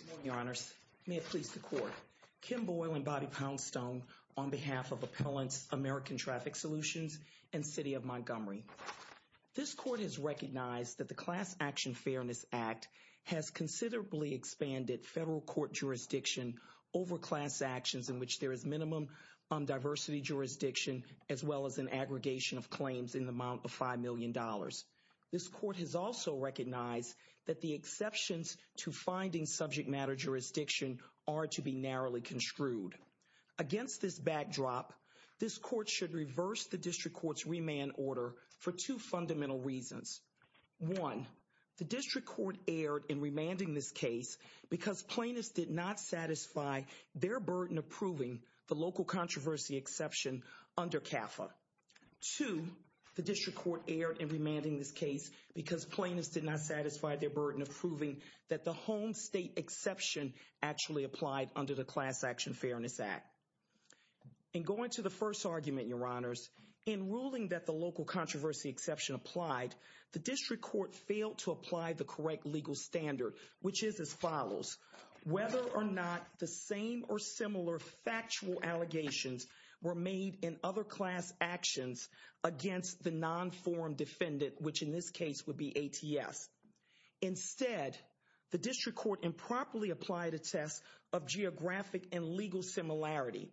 Good morning, your honors. May it please the court. Kim Boyle and Bobby Poundstone on behalf of Appellants American Traffic Solutions and City of Montgomery. This court has recognized that the Class Action Fairness Act has considerably expanded federal court jurisdiction over class actions in which there is minimum diversity jurisdiction as well as an aggregation of jurisdictions to finding subject matter jurisdiction are to be narrowly construed. Against this backdrop, this court should reverse the district court's remand order for two fundamental reasons. One, the district court erred in remanding this case because plaintiffs did not satisfy their burden of proving the local controversy exception under CAFA. Two, the district court erred in remanding this case because plaintiffs did not satisfy their burden of proving that the home state exception actually applied under the Class Action Fairness Act. In going to the first argument, your honors, in ruling that the local controversy exception applied, the district court failed to apply the correct legal standard, which is as follows. Whether or not the same or similar factual allegations were made in other class actions against the non-form defendant, which in this case would be ATS. Instead, the district court improperly applied a test of geographic and legal similarity.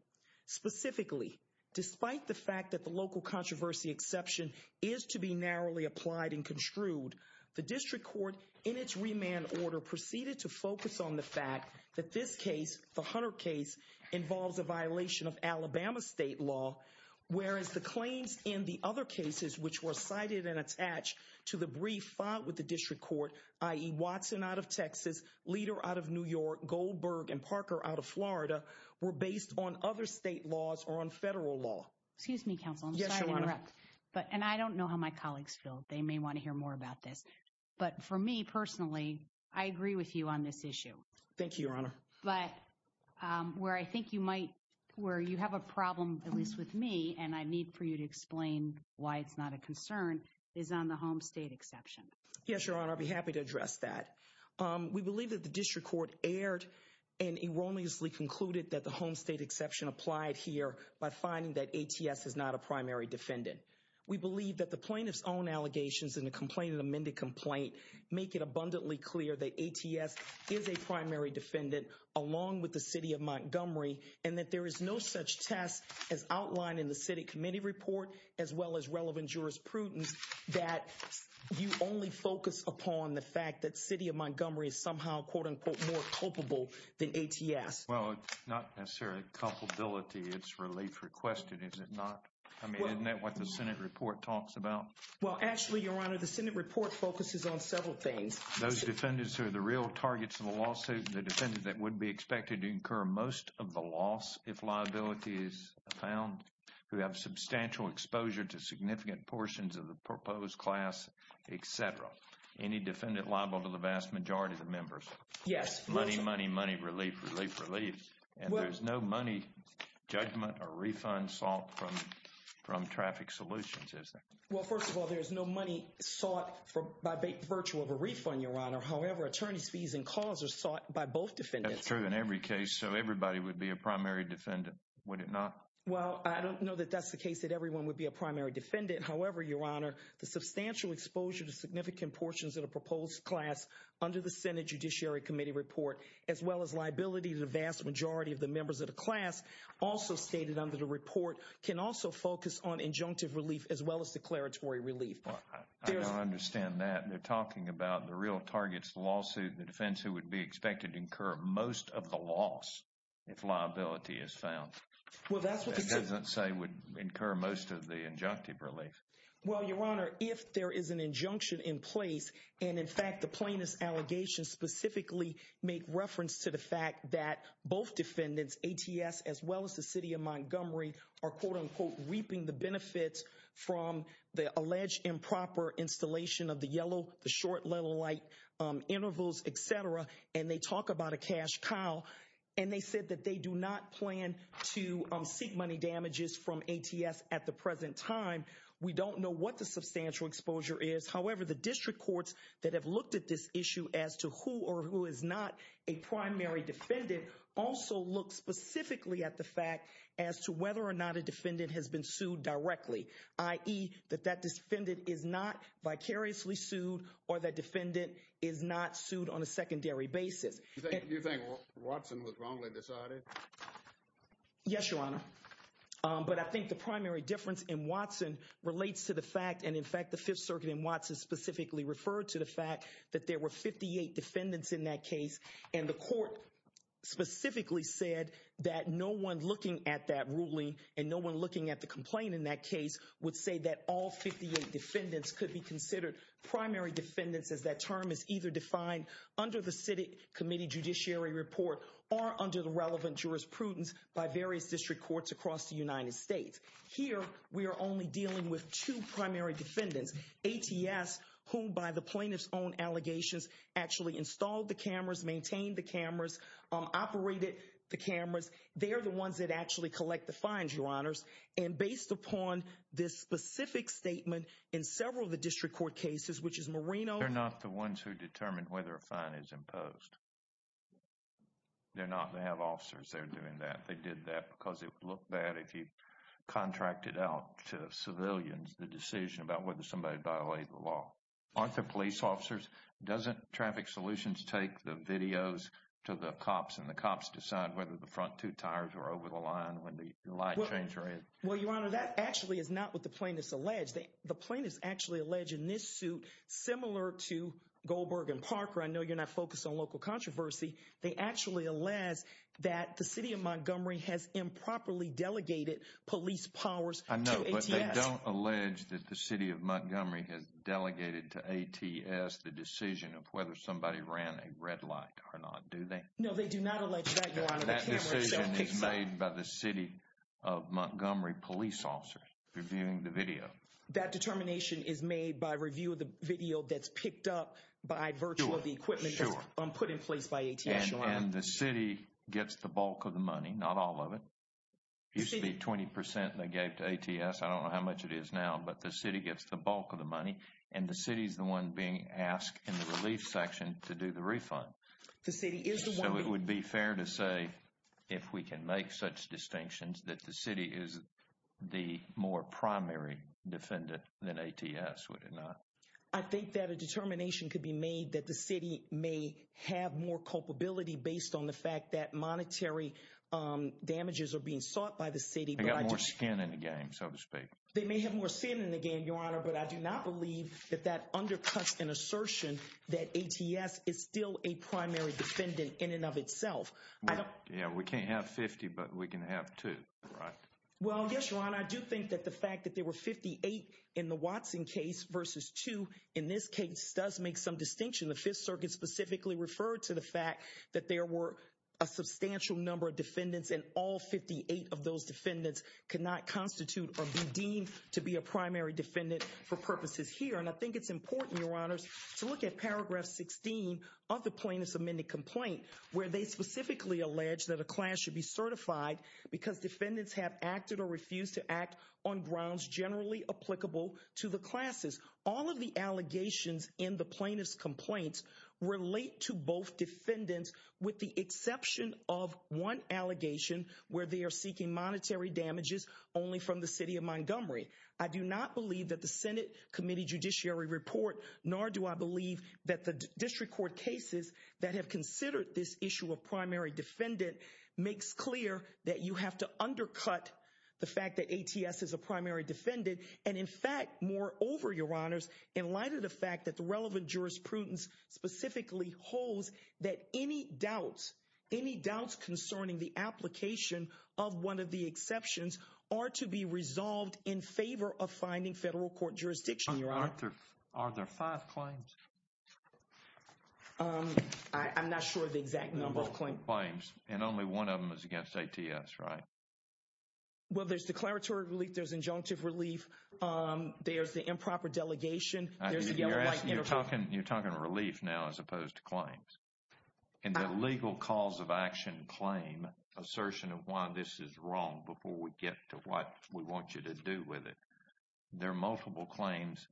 Specifically, despite the fact that the local controversy exception is to be narrowly applied and construed, the district court in its remand order proceeded to focus on the fact that this case, the Hunter case, involves a violation of Alabama state law, whereas the claims in the other cases which were cited and attached to the brief filed with the district court, i.e. Watson out of Texas, Leader out of New York, Goldberg and Parker out of Florida, were based on other state laws or on federal law. Excuse me, counsel. I'm sorry to interrupt. Yes, your honor. And I don't know how my colleagues feel. They may want to hear more about this. But for me personally, I agree with you on this issue. Thank you, your honor. But where I think you might, where you have a problem, at least with me, and I need for you to explain why it's not a concern, is on the home state exception. Yes, your honor. I'd be happy to address that. We believe that the district court erred and erroneously concluded that the home state exception applied here by finding that ATS is not a primary defendant. We believe that the plaintiff's own allegations in the complaint in the amended complaint make it abundantly clear that ATS is a primary defendant, along with the city of Montgomery, and that there is no such test as outlined in the city committee report, as well as relevant jurisprudence, that you only focus upon the fact that city of Montgomery is somehow, quote unquote, more culpable than ATS. Well, not necessarily culpability. It's relief requested, is it not? I mean, isn't that what the Senate report talks about? Well, actually, your honor, the Senate report focuses on several things. Those defendants who are the real targets of the lawsuit, the defendant that would be expected to incur most of the loss if liability is found, who have substantial exposure to significant portions of the proposed class, etc. Any defendant liable to the vast majority of the members? Yes. Money, money, money, relief, relief, relief. And there's no money, judgment, or refund sought from traffic solutions, is there? Well, first of all, there's no money sought by virtue of a refund, your honor. However, attorneys fees and calls are sought by both defendants. That's true in every case. So everybody would be a primary defendant, would it not? Well, I don't know that that's the case, that everyone would be a primary defendant. However, your honor, the substantial exposure to significant portions of the proposed class under the Senate Judiciary Committee report, as well as liability to the vast majority of the members of the class, also stated under the report, can also focus on injunctive relief, as well as the declaratory relief. I don't understand that. They're talking about the real targets, the lawsuit, the defense who would be expected to incur most of the loss if liability is found. Well, that's what they say. That doesn't say would incur most of the injunctive relief. Well, your honor, if there is an injunction in place, and in fact, the plaintiff's allegations specifically make reference to the fact that both defendants, ATS, as well as the city of Montgomery, are quote, unquote, reaping the benefits from the alleged improper installation of the yellow, the short level light intervals, et cetera. And they talk about a cash cow. And they said that they do not plan to seek money damages from ATS at the present time. We don't know what the substantial exposure is. However, the district courts that have looked at this issue as to who or who is not a primary defendant also look specifically at the fact as to whether or not a defendant has been sued directly, i.e. that that defendant is not vicariously sued or that defendant is not sued on a secondary basis. You think Watson was wrongly decided? Yes, your honor. But I think the primary difference in Watson relates to the fact, and in fact, the Fifth Circuit in Watson specifically referred to the fact that there were 58 defendants in that case. And the court specifically said that no one looking at that ruling and no one looking at the complaint in that case would say that all 58 defendants could be considered primary defendants as that term is either defined under the city committee judiciary report or under the relevant jurisprudence by various district courts across the United States. Here, we are only dealing with two primary defendants, ATS, whom by the plaintiff's own the cameras, maintained the cameras, operated the cameras. They are the ones that actually collect the fines, your honors. And based upon this specific statement in several of the district court cases, which is Moreno. They're not the ones who determined whether a fine is imposed. They're not. They have officers there doing that. They did that because it would look bad if you contracted out to civilians the decision about whether somebody violated the law. Aren't there police officers? Doesn't Traffic Solutions take the videos to the cops and the cops decide whether the front two tires are over the line when the light changes? Well, your honor, that actually is not what the plaintiffs allege. The plaintiffs actually allege in this suit, similar to Goldberg and Parker. I know you're not focused on local controversy. They actually allege that the city of Montgomery has improperly delegated police powers. I know, but they don't allege that the city of Montgomery has delegated to ATS the decision of whether somebody ran a red light or not, do they? No, they do not allege that, your honor. That decision is made by the city of Montgomery police officers reviewing the video. That determination is made by review of the video that's picked up by virtue of the equipment And the city gets the bulk of the money, not all of it. You see the 20% they gave to ATS. I don't know how much it is now, but the city gets the bulk of the money and the city is the one being asked in the relief section to do the refund. The city is the one... So it would be fair to say, if we can make such distinctions, that the city is the more primary defendant than ATS, would it not? I think that a determination could be made that the city may have more culpability based on the fact that monetary damages are being sought by the city. They got more skin in the game, so to speak. They may have more sin in the game, your honor, but I do not believe that that undercuts an assertion that ATS is still a primary defendant in and of itself. Yeah, we can't have 50, but we can have two, right? Well, yes, your honor, I do think that the fact that there were 58 in the Watson case versus two in this case does make some distinction. The Fifth Circuit specifically referred to the fact that there were a substantial number of defendants and all 58 of those defendants could not constitute or be deemed to be a primary defendant for purposes here. And I think it's important, your honors, to look at paragraph 16 of the plaintiff's amended complaint where they specifically allege that a client should be certified because defendants have acted or refused to act on grounds generally applicable to the classes. All of the allegations in the plaintiff's complaint relate to both defendants with the exception of one allegation where they are seeking monetary damages only from the city of Montgomery. I do not believe that the Senate Committee Judiciary Report, nor do I believe that the district court cases that have considered this issue of primary defendant makes clear that you have to undercut the fact that ATS is a primary defendant and, in fact, more over, your honors, in light of the fact that the relevant jurisprudence specifically holds that any doubts, any doubts concerning the application of one of the exceptions are to be resolved in favor of finding federal court jurisdiction, your honor. Are there five claims? I'm not sure of the exact number of claims. And only one of them is against ATS, right? Well, there's declaratory relief, there's injunctive relief, there's the improper delegation, there's the yellow light interval. You're talking relief now as opposed to claims. In the legal cause of action claim, assertion of why this is wrong before we get to what we want you to do with it, there are multiple claims,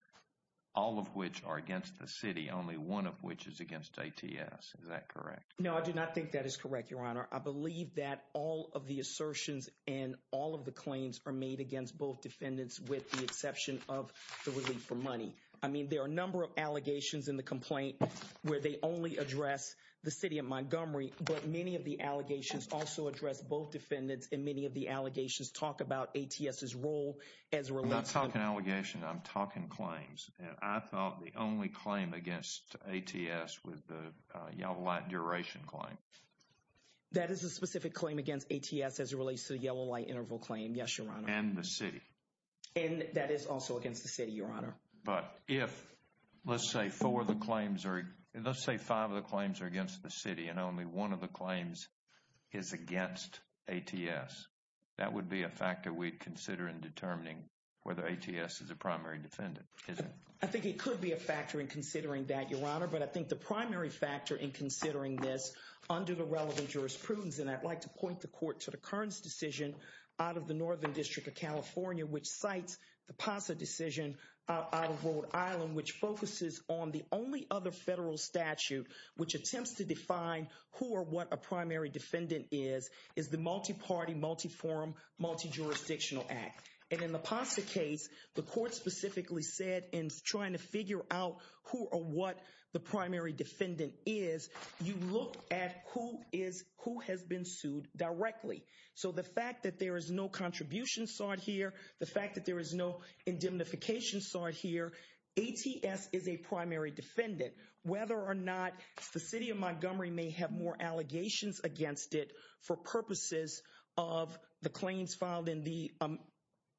all of which are against the city, only one of which is against ATS. Is that correct? No, I do not think that is correct, your honor. I believe that all of the assertions and all of the claims are made against both defendants with the exception of the relief for money. I mean, there are a number of allegations in the complaint where they only address the city of Montgomery, but many of the allegations also address both defendants and many of the allegations talk about ATS's role as a relief. I'm not talking allegations, I'm talking claims. And I thought the only claim against ATS was the yellow light duration claim. That is a specific claim against ATS as it relates to the yellow light interval claim, yes, your honor. And the city. And that is also against the city, your honor. But if, let's say, four of the claims or let's say five of the claims are against the city and only one of the claims is against ATS, that would be a factor we'd consider in determining whether ATS is a primary defendant, isn't it? I think it could be a factor in considering that, your honor, but I think the primary factor in considering this under the relevant jurisprudence, and I'd like to point the court to the Kearns decision out of the Northern District of California, which cites the PASA decision out of Rhode Island, which focuses on the only other federal statute which attempts to define who or what a primary defendant is, is the multi-party, multi-forum, multi-jurisdictional act. And in the PASA case, the court specifically said in trying to figure out who or what the primary defendant is, you look at who has been sued directly. So the fact that there is no contribution sought here, the fact that there is no indemnification sought here, ATS is a primary defendant. Whether or not the city of Montgomery may have more allegations against it for purposes of the claims filed in the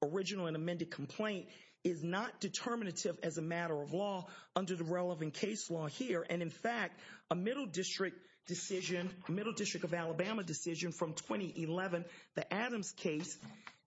original and amended complaint is not determinative as a matter of law under the relevant case law here, and in fact, a Middle District decision, Middle District of Alabama decision from 2011, the Adams case,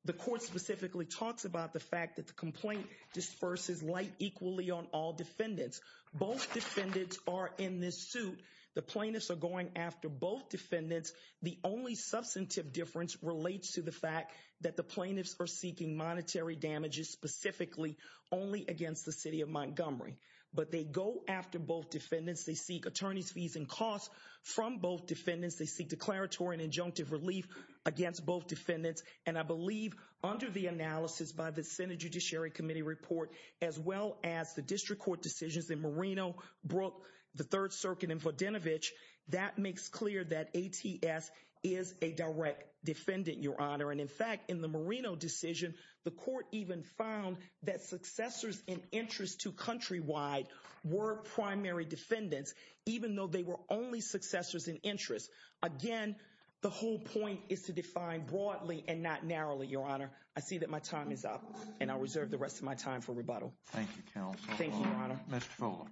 the court specifically talks about the fact that the complaint disperses light equally on all defendants. Both defendants are in this suit. The plaintiffs are going after both defendants. The only substantive difference relates to the fact that the plaintiffs are seeking monetary damages specifically only against the city of Montgomery, but they go after both defendants. They seek attorney's fees and costs from both defendants. They seek declaratory and injunctive relief against both defendants, and I believe under the analysis by the Senate Judiciary Committee report, as well as the district court decisions in Moreno, Brooke, the 3rd Circuit, and Vodenovich, that makes clear that ATS is a direct defendant, Your Honor, and in fact, in the Moreno decision, the court even found that successors in interest to Countrywide were primary defendants, even though they were only successors in interest. Again, the whole point is to define broadly and not narrowly, Your Honor. I see that my time is up, and I reserve the rest of my time for rebuttal. Thank you, Counsel. Thank you, Your Honor. Mr. Fuller.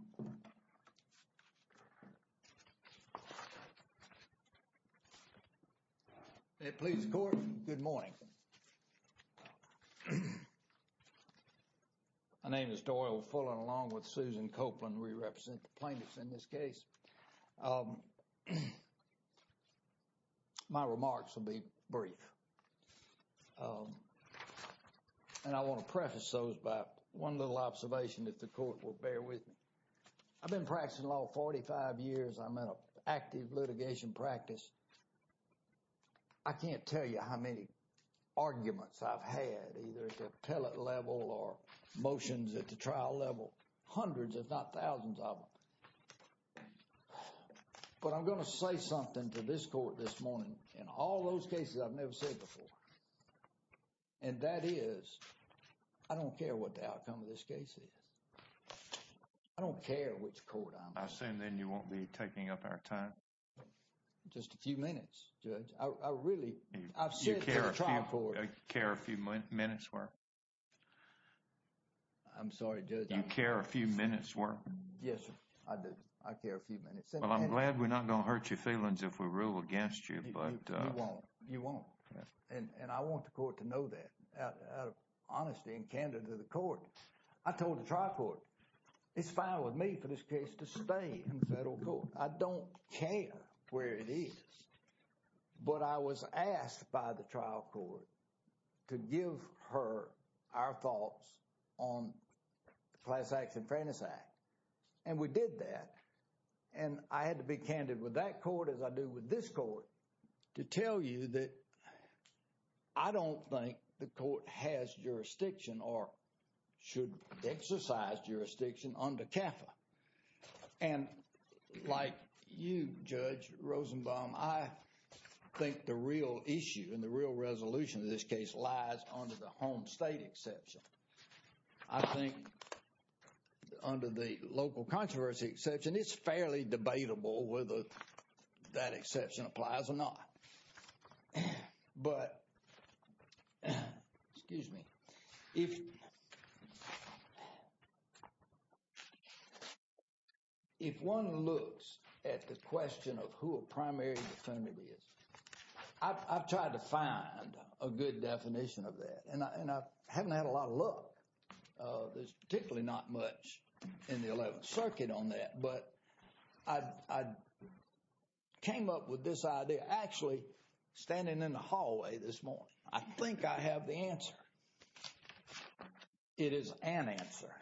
Please, Court. Good morning. My name is Doyle Fuller, along with Susan Copeland, and we represent the plaintiffs in this case. My remarks will be brief, and I want to preface those by one little observation that the court will bear with me. I've been practicing law 45 years. I'm in an active litigation practice. I can't tell you how many arguments I've had, either at the appellate level or motions at the trial level, hundreds, if not thousands of them, but I'm going to say something to this court this morning in all those cases I've never said before, and that is I don't care what the outcome of this case is. I don't care which court I'm in. I assume then you won't be taking up our time. Just a few minutes, Judge. I really, I've said to the trial court. You care a few minutes worth? I'm sorry, Judge. You care a few minutes worth? Yes, sir. I do. I care a few minutes. Well, I'm glad we're not going to hurt your feelings if we rule against you, but... You won't. You won't. And I want the court to know that. I told the trial court, it's fine with me for this case to stay in federal court. I don't care where it is, but I was asked by the trial court to give her our thoughts on the Class Act and Fairness Act, and we did that. And I had to be candid with that court as I do with this court to tell you that I don't think the court has jurisdiction or should exercise jurisdiction under CAFA. And like you, Judge Rosenbaum, I think the real issue and the real resolution of this case lies under the home state exception. I think under the local controversy exception, it's fairly debatable whether that exception applies or not. But, excuse me, if one looks at the question of who a primary defendant is, I've tried to find a good definition of that, and I haven't had a lot of luck. There's particularly not much in the Eleventh Circuit on that, but I came up with this idea. Actually, standing in the hallway this morning, I think I have the answer. It is an answer.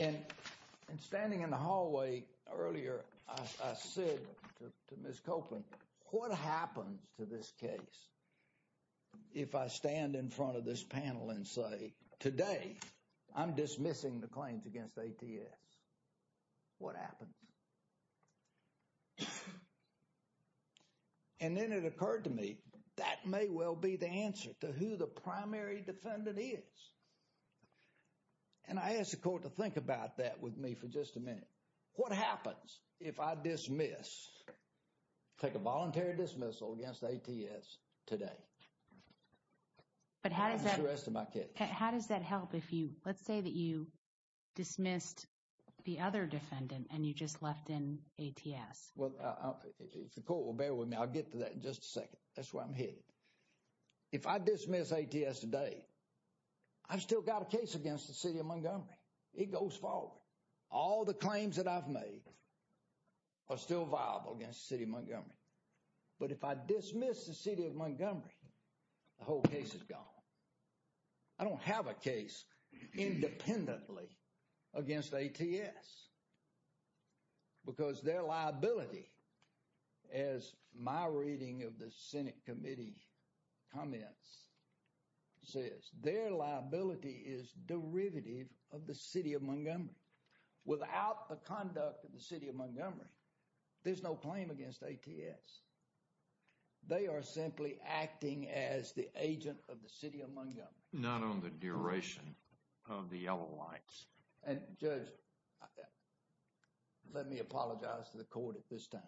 And standing in the hallway earlier, I said to Ms. Copeland, what happens to this case if I stand in front of this panel and say, today, I'm dismissing the claims against ATS? What happens? And then it occurred to me, that may well be the answer to who the primary defendant is. And I asked the court to think about that with me for just a minute. What happens if I dismiss, take a voluntary dismissal against ATS today? And that's the rest of my case. How does that help if you, let's say that you dismissed the other defendant and you just left in ATS? Well, if the court will bear with me, I'll get to that in just a second. That's where I'm headed. If I dismiss ATS today, I've still got a case against the City of Montgomery. It goes forward. All the claims that I've made are still viable against the City of Montgomery. But if I dismiss the City of Montgomery, the whole case is gone. I don't have a case independently against ATS because their liability, as my reading of the Senate committee comments, says their liability is derivative of the City of Montgomery. Without the conduct of the City of Montgomery, there's no claim against ATS. They are simply acting as the agent of the City of Montgomery. Not on the duration of the yellow lights. And Judge, let me apologize to the court at this time.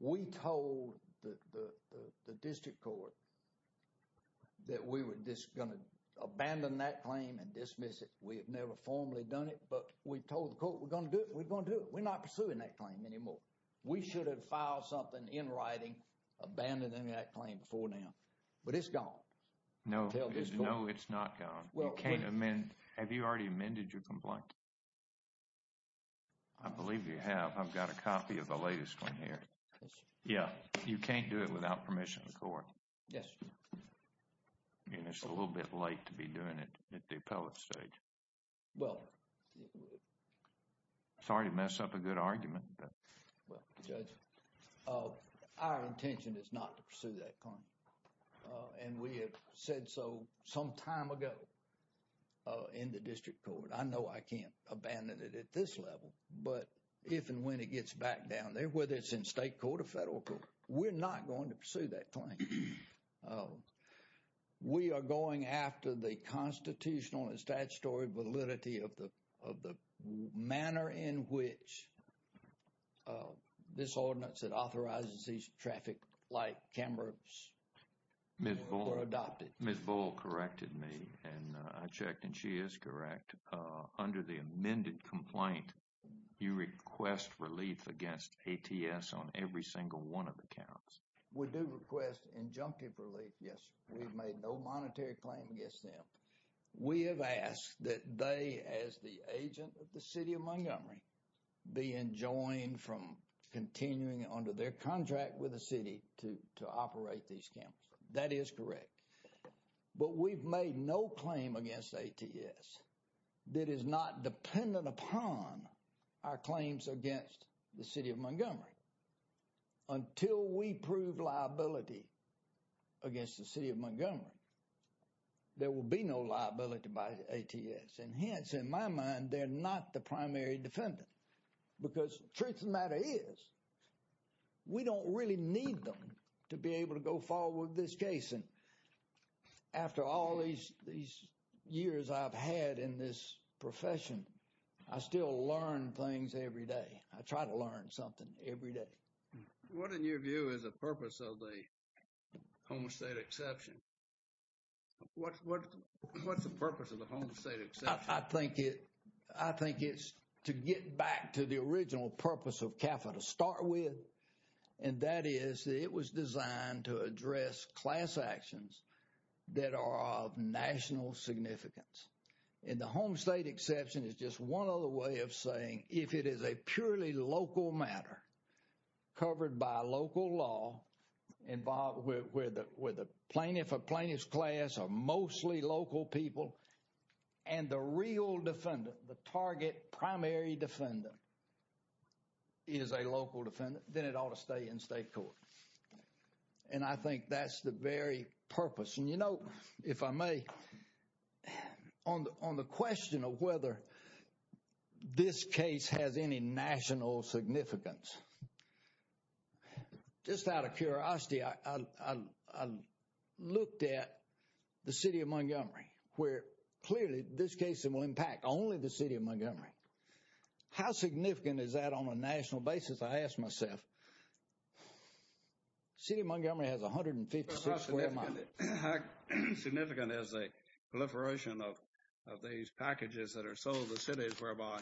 We told the district court that we were just going to abandon that claim and dismiss it. We have never formally done it, but we told the court, we're going to do it. We're going to do it. We're not pursuing that claim anymore. We should have filed something in writing, abandoning that claim before now. But it's gone. No. No, it's not gone. You can't amend. Have you already amended your complaint? I believe you have. I've got a copy of the latest one here. Yeah. You can't do it without permission of the court. Yes, sir. I mean, it's a little bit late to be doing it at the appellate stage. Well. Sorry to mess up a good argument, but. Well, Judge, our intention is not to pursue that claim. And we have said so some time ago in the district court. I know I can't abandon it at this level, but if and when it gets back down there, whether it's in state court or federal court, we're not going to pursue that claim. We are going after the constitutional and statutory validity of the manner in which this ordinance that authorizes these traffic light cameras were adopted. Ms. Bull corrected me and I checked and she is correct. Under the amended complaint, you request relief against ATS on every single one of the counts. We do request injunctive relief. Yes, we've made no monetary claim against them. We have asked that they, as the agent of the city of Montgomery, be enjoined from continuing under their contract with the city to operate these cameras. That is correct. But we've made no claim against ATS that is not dependent upon our claims against the approved liability against the city of Montgomery. There will be no liability by ATS and hence, in my mind, they're not the primary defendant because truth of the matter is, we don't really need them to be able to go forward with this case. And after all these years I've had in this profession, I still learn things every day. I try to learn something every day. What in your view is the purpose of the Homestead Exception? What's the purpose of the Homestead Exception? I think it's to get back to the original purpose of CAFA to start with. And that is, it was designed to address class actions that are of national significance. And the Homestead Exception is just one other way of saying, if it is a purely local matter, covered by local law, involved with a plaintiff, a plaintiff's class of mostly local people and the real defendant, the target primary defendant is a local defendant, then it ought to stay in state court. And I think that's the very purpose. You know, if I may, on the question of whether this case has any national significance, just out of curiosity, I looked at the city of Montgomery, where clearly this case will impact only the city of Montgomery. How significant is that on a national basis, I ask myself? The city of Montgomery has 156 square miles. How significant is the proliferation of these packages that are sold to cities whereby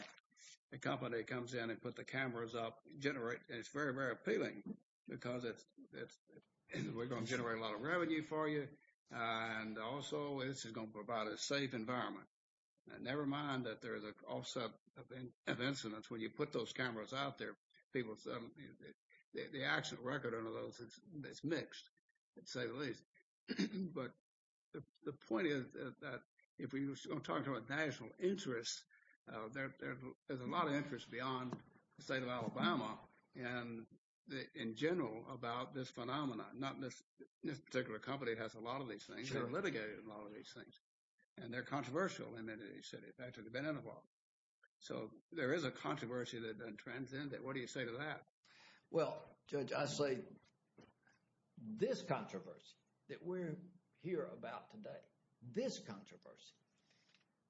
a company comes in and put the cameras up, generate, it's very, very appealing because it's, we're going to generate a lot of revenue for you. And also, this is going to provide a safe environment. Nevermind that there is an offset of incidents when you put those cameras out there, people suddenly, the actual record under those, it's mixed, to say the least. But the point is that if we're going to talk about national interest, there's a lot of interest beyond the state of Alabama and in general about this phenomenon. Not this particular company that has a lot of these things, they're litigated on a lot of these things. And they're controversial in any city, in fact, they've been in a while. So, there is a controversy that transcends that, what do you say to that? Well, Judge, I say this controversy that we're here about today, this controversy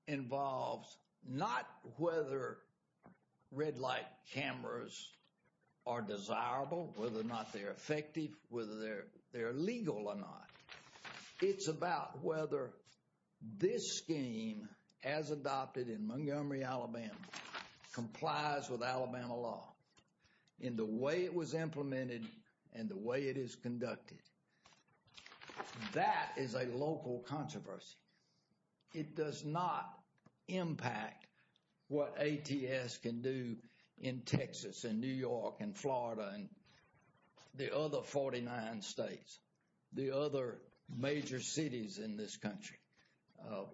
involves not whether red light cameras are desirable, whether or not they're effective, whether they're legal or not. It's about whether this scheme, as adopted in Montgomery, Alabama, complies with Alabama law in the way it was implemented and the way it is conducted. That is a local controversy. It does not impact what ATS can do in Texas and New York and Florida and the other 49 states, the other major cities in this country.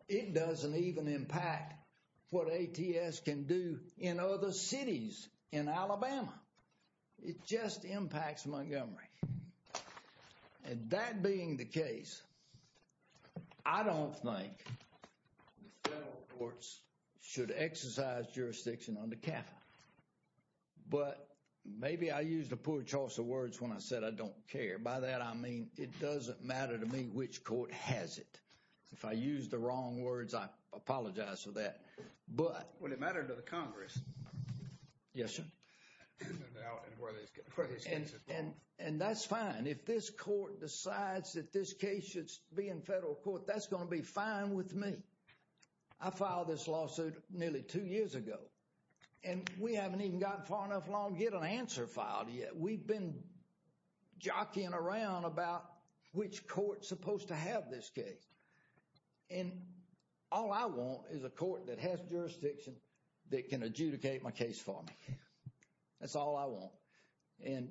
It doesn't even impact what ATS can do in other cities in Alabama. It just impacts Montgomery. And that being the case, I don't think the federal courts should exercise jurisdiction on the capital. But maybe I used a poor choice of words when I said I don't care. By that, I mean it doesn't matter to me which court has it. If I use the wrong words, I apologize for that. But... Would it matter to the Congress? Yes, sir. And that's fine. If this court decides that this case should be in federal court, that's going to be fine with me. I filed this lawsuit nearly two years ago. And we haven't even gotten far enough along to get an answer filed yet. We've been jockeying around about which court is supposed to have this case. And all I want is a court that has jurisdiction that can adjudicate my case for me. That's all I want. And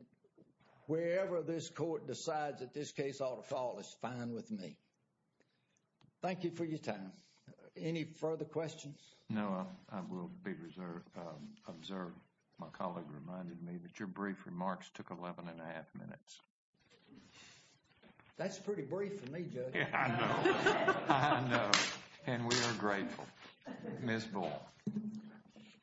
wherever this court decides that this case ought to fall is fine with me. Thank you for your time. Any further questions? No. I will be observed. My colleague reminded me that your brief remarks took 11 and a half minutes. That's pretty brief for me, Judge. Yeah, I know. I know. And we are grateful. Ms. Ball.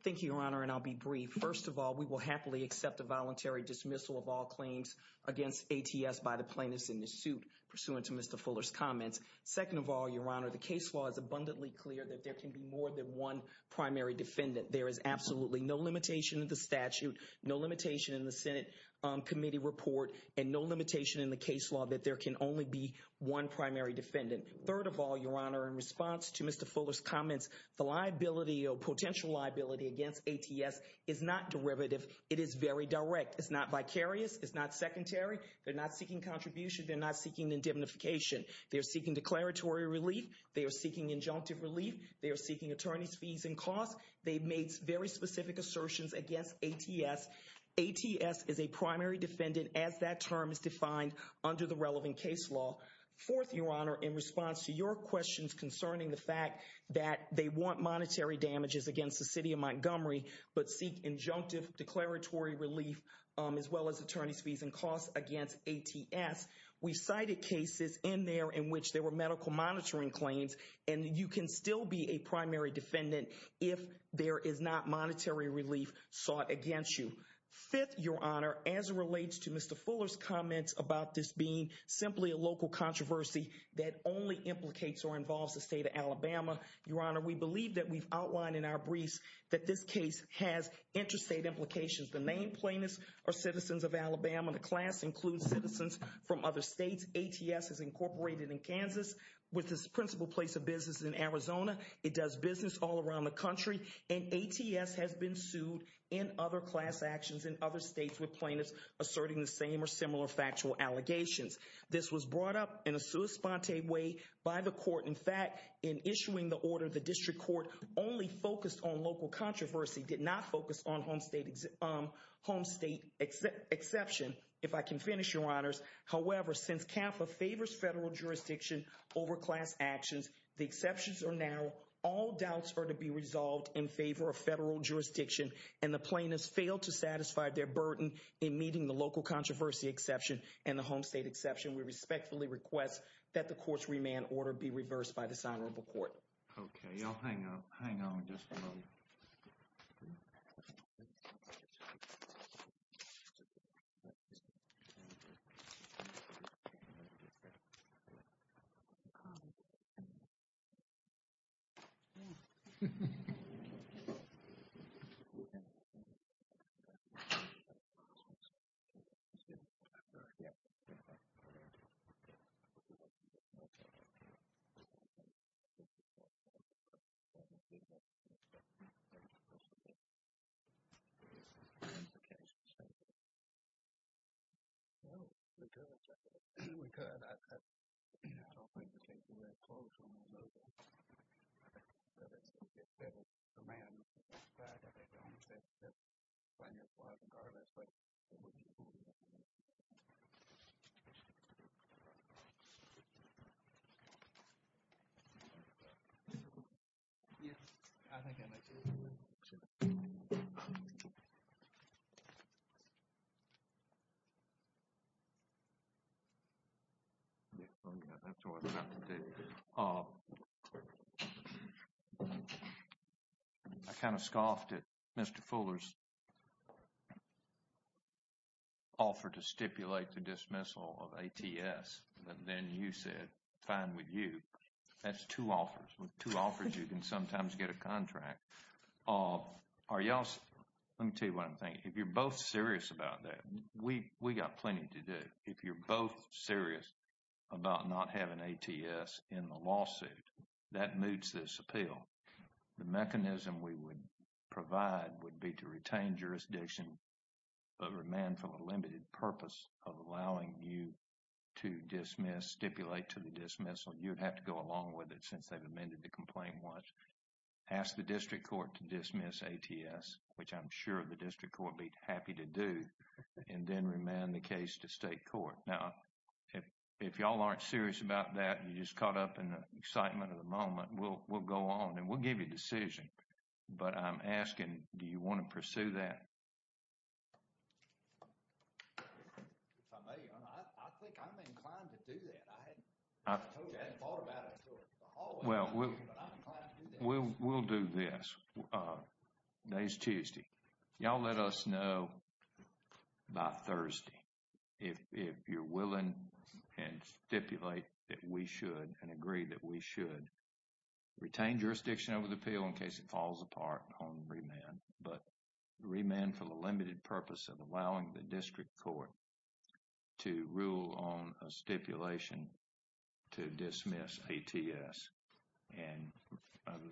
Thank you, Your Honor, and I'll be brief. First of all, we will happily accept a voluntary dismissal of all claims against ATS by the Fuller's comments. Second of all, Your Honor, the case law is abundantly clear that there can be more than one primary defendant. There is absolutely no limitation in the statute, no limitation in the Senate committee report, and no limitation in the case law that there can only be one primary defendant. Third of all, Your Honor, in response to Mr. Fuller's comments, the liability or potential liability against ATS is not derivative. It is very direct. It's not vicarious. It's not secondary. They're not seeking contribution. They're not seeking indemnification. They're seeking declaratory relief. They are seeking injunctive relief. They are seeking attorney's fees and costs. They made very specific assertions against ATS. ATS is a primary defendant as that term is defined under the relevant case law. Fourth, Your Honor, in response to your questions concerning the fact that they want monetary damages against the City of Montgomery, but seek injunctive declaratory relief as well as attorney's fees and costs against ATS, we cited cases in there in which there were medical monitoring claims, and you can still be a primary defendant if there is not monetary relief sought against you. Fifth, Your Honor, as it relates to Mr. Fuller's comments about this being simply a local controversy that only implicates or involves the state of Alabama, Your Honor, we believe that we've outlined in our briefs that this case has interstate implications. The main plaintiffs are citizens of Alabama. The class includes citizens from other states. ATS is incorporated in Kansas with its principal place of business in Arizona. It does business all around the country, and ATS has been sued in other class actions in other states with plaintiffs asserting the same or similar factual allegations. This was brought up in a sua sponte way by the court. In fact, in issuing the order, the district court only focused on local controversy, did not focus on home state exception. If I can finish, Your Honors, however, since CAFA favors federal jurisdiction over class actions, the exceptions are narrow, all doubts are to be resolved in favor of federal jurisdiction, and the plaintiffs failed to satisfy their burden in meeting the local controversy exception and the home state exception. We respectfully request that the court's remand order be reversed by this honorable court. Okay, y'all hang on, hang on just a moment. I don't think we have time to go through the rest of it. Do we have some clarification or something? No, we could. We could. I don't think we're keeping that close when we're voting. But if the remand was to be expired, I think Your Honors, that's fine as far as regardless, but it wouldn't fool me. Yes, I think that makes sense. I kind of scoffed at Mr. Fuller's offer to stipulate the dismissal of ATS. And then you said, fine with you. That's two offers. With two offers, you can sometimes get a contract. Are y'all, let me tell you what I'm thinking. If you're both serious about that, we got plenty to do. If you're both serious about not having ATS in the lawsuit, that moots this appeal. The mechanism we would provide would be to retain jurisdiction of remand for the limited purpose of allowing you to dismiss, stipulate to the dismissal. You would have to go along with it since they've amended the complaint once. Ask the district court to dismiss ATS, which I'm sure the district court would be happy to do, and then remand the case to state court. Now, if y'all aren't serious about that, you just caught up in the excitement of the moment, we'll go on and we'll give you a decision. But I'm asking, do you want to pursue that? If I may, Your Honor, I think I'm inclined to do that. I hadn't thought about it. Well, we'll do this. Today's Tuesday. Y'all let us know by Thursday if you're willing and stipulate that we should and agree that we should retain jurisdiction over the appeal in case it falls apart on remand. But remand for the limited purpose of allowing the district court to rule on a stipulation to dismiss ATS. And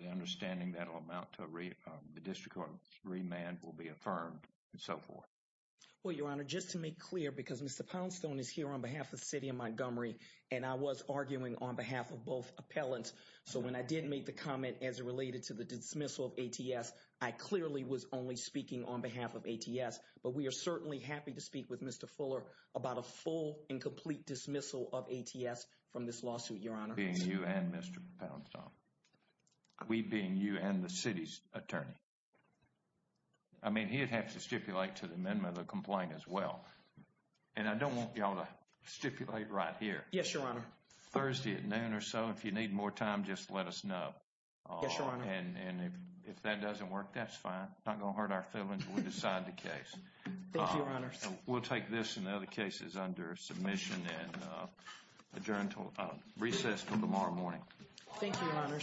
the understanding that will amount to the district court remand will be affirmed and so forth. Well, Your Honor, just to make clear, because Mr. Poundstone is here on behalf of the city of Montgomery, and I was arguing on behalf of both appellants. So when I did make the comment as it related to the dismissal of ATS, I clearly was only speaking on behalf of ATS. But we are certainly happy to speak with Mr. Fuller about a full and complete dismissal of ATS from this lawsuit, Your Honor. Being you and Mr. Poundstone. We being you and the city's attorney. I mean, he'd have to stipulate to the amendment of the complaint as well. And I don't want y'all to stipulate right here. Yes, Your Honor. Thursday at noon or so. If you need more time, just let us know. Yes, Your Honor. And if that doesn't work, that's fine. Not going to hurt our feelings. We'll decide the case. Thank you, Your Honor. We'll take this and other cases under submission and adjourn until recess until tomorrow morning. Thank you, Your Honor.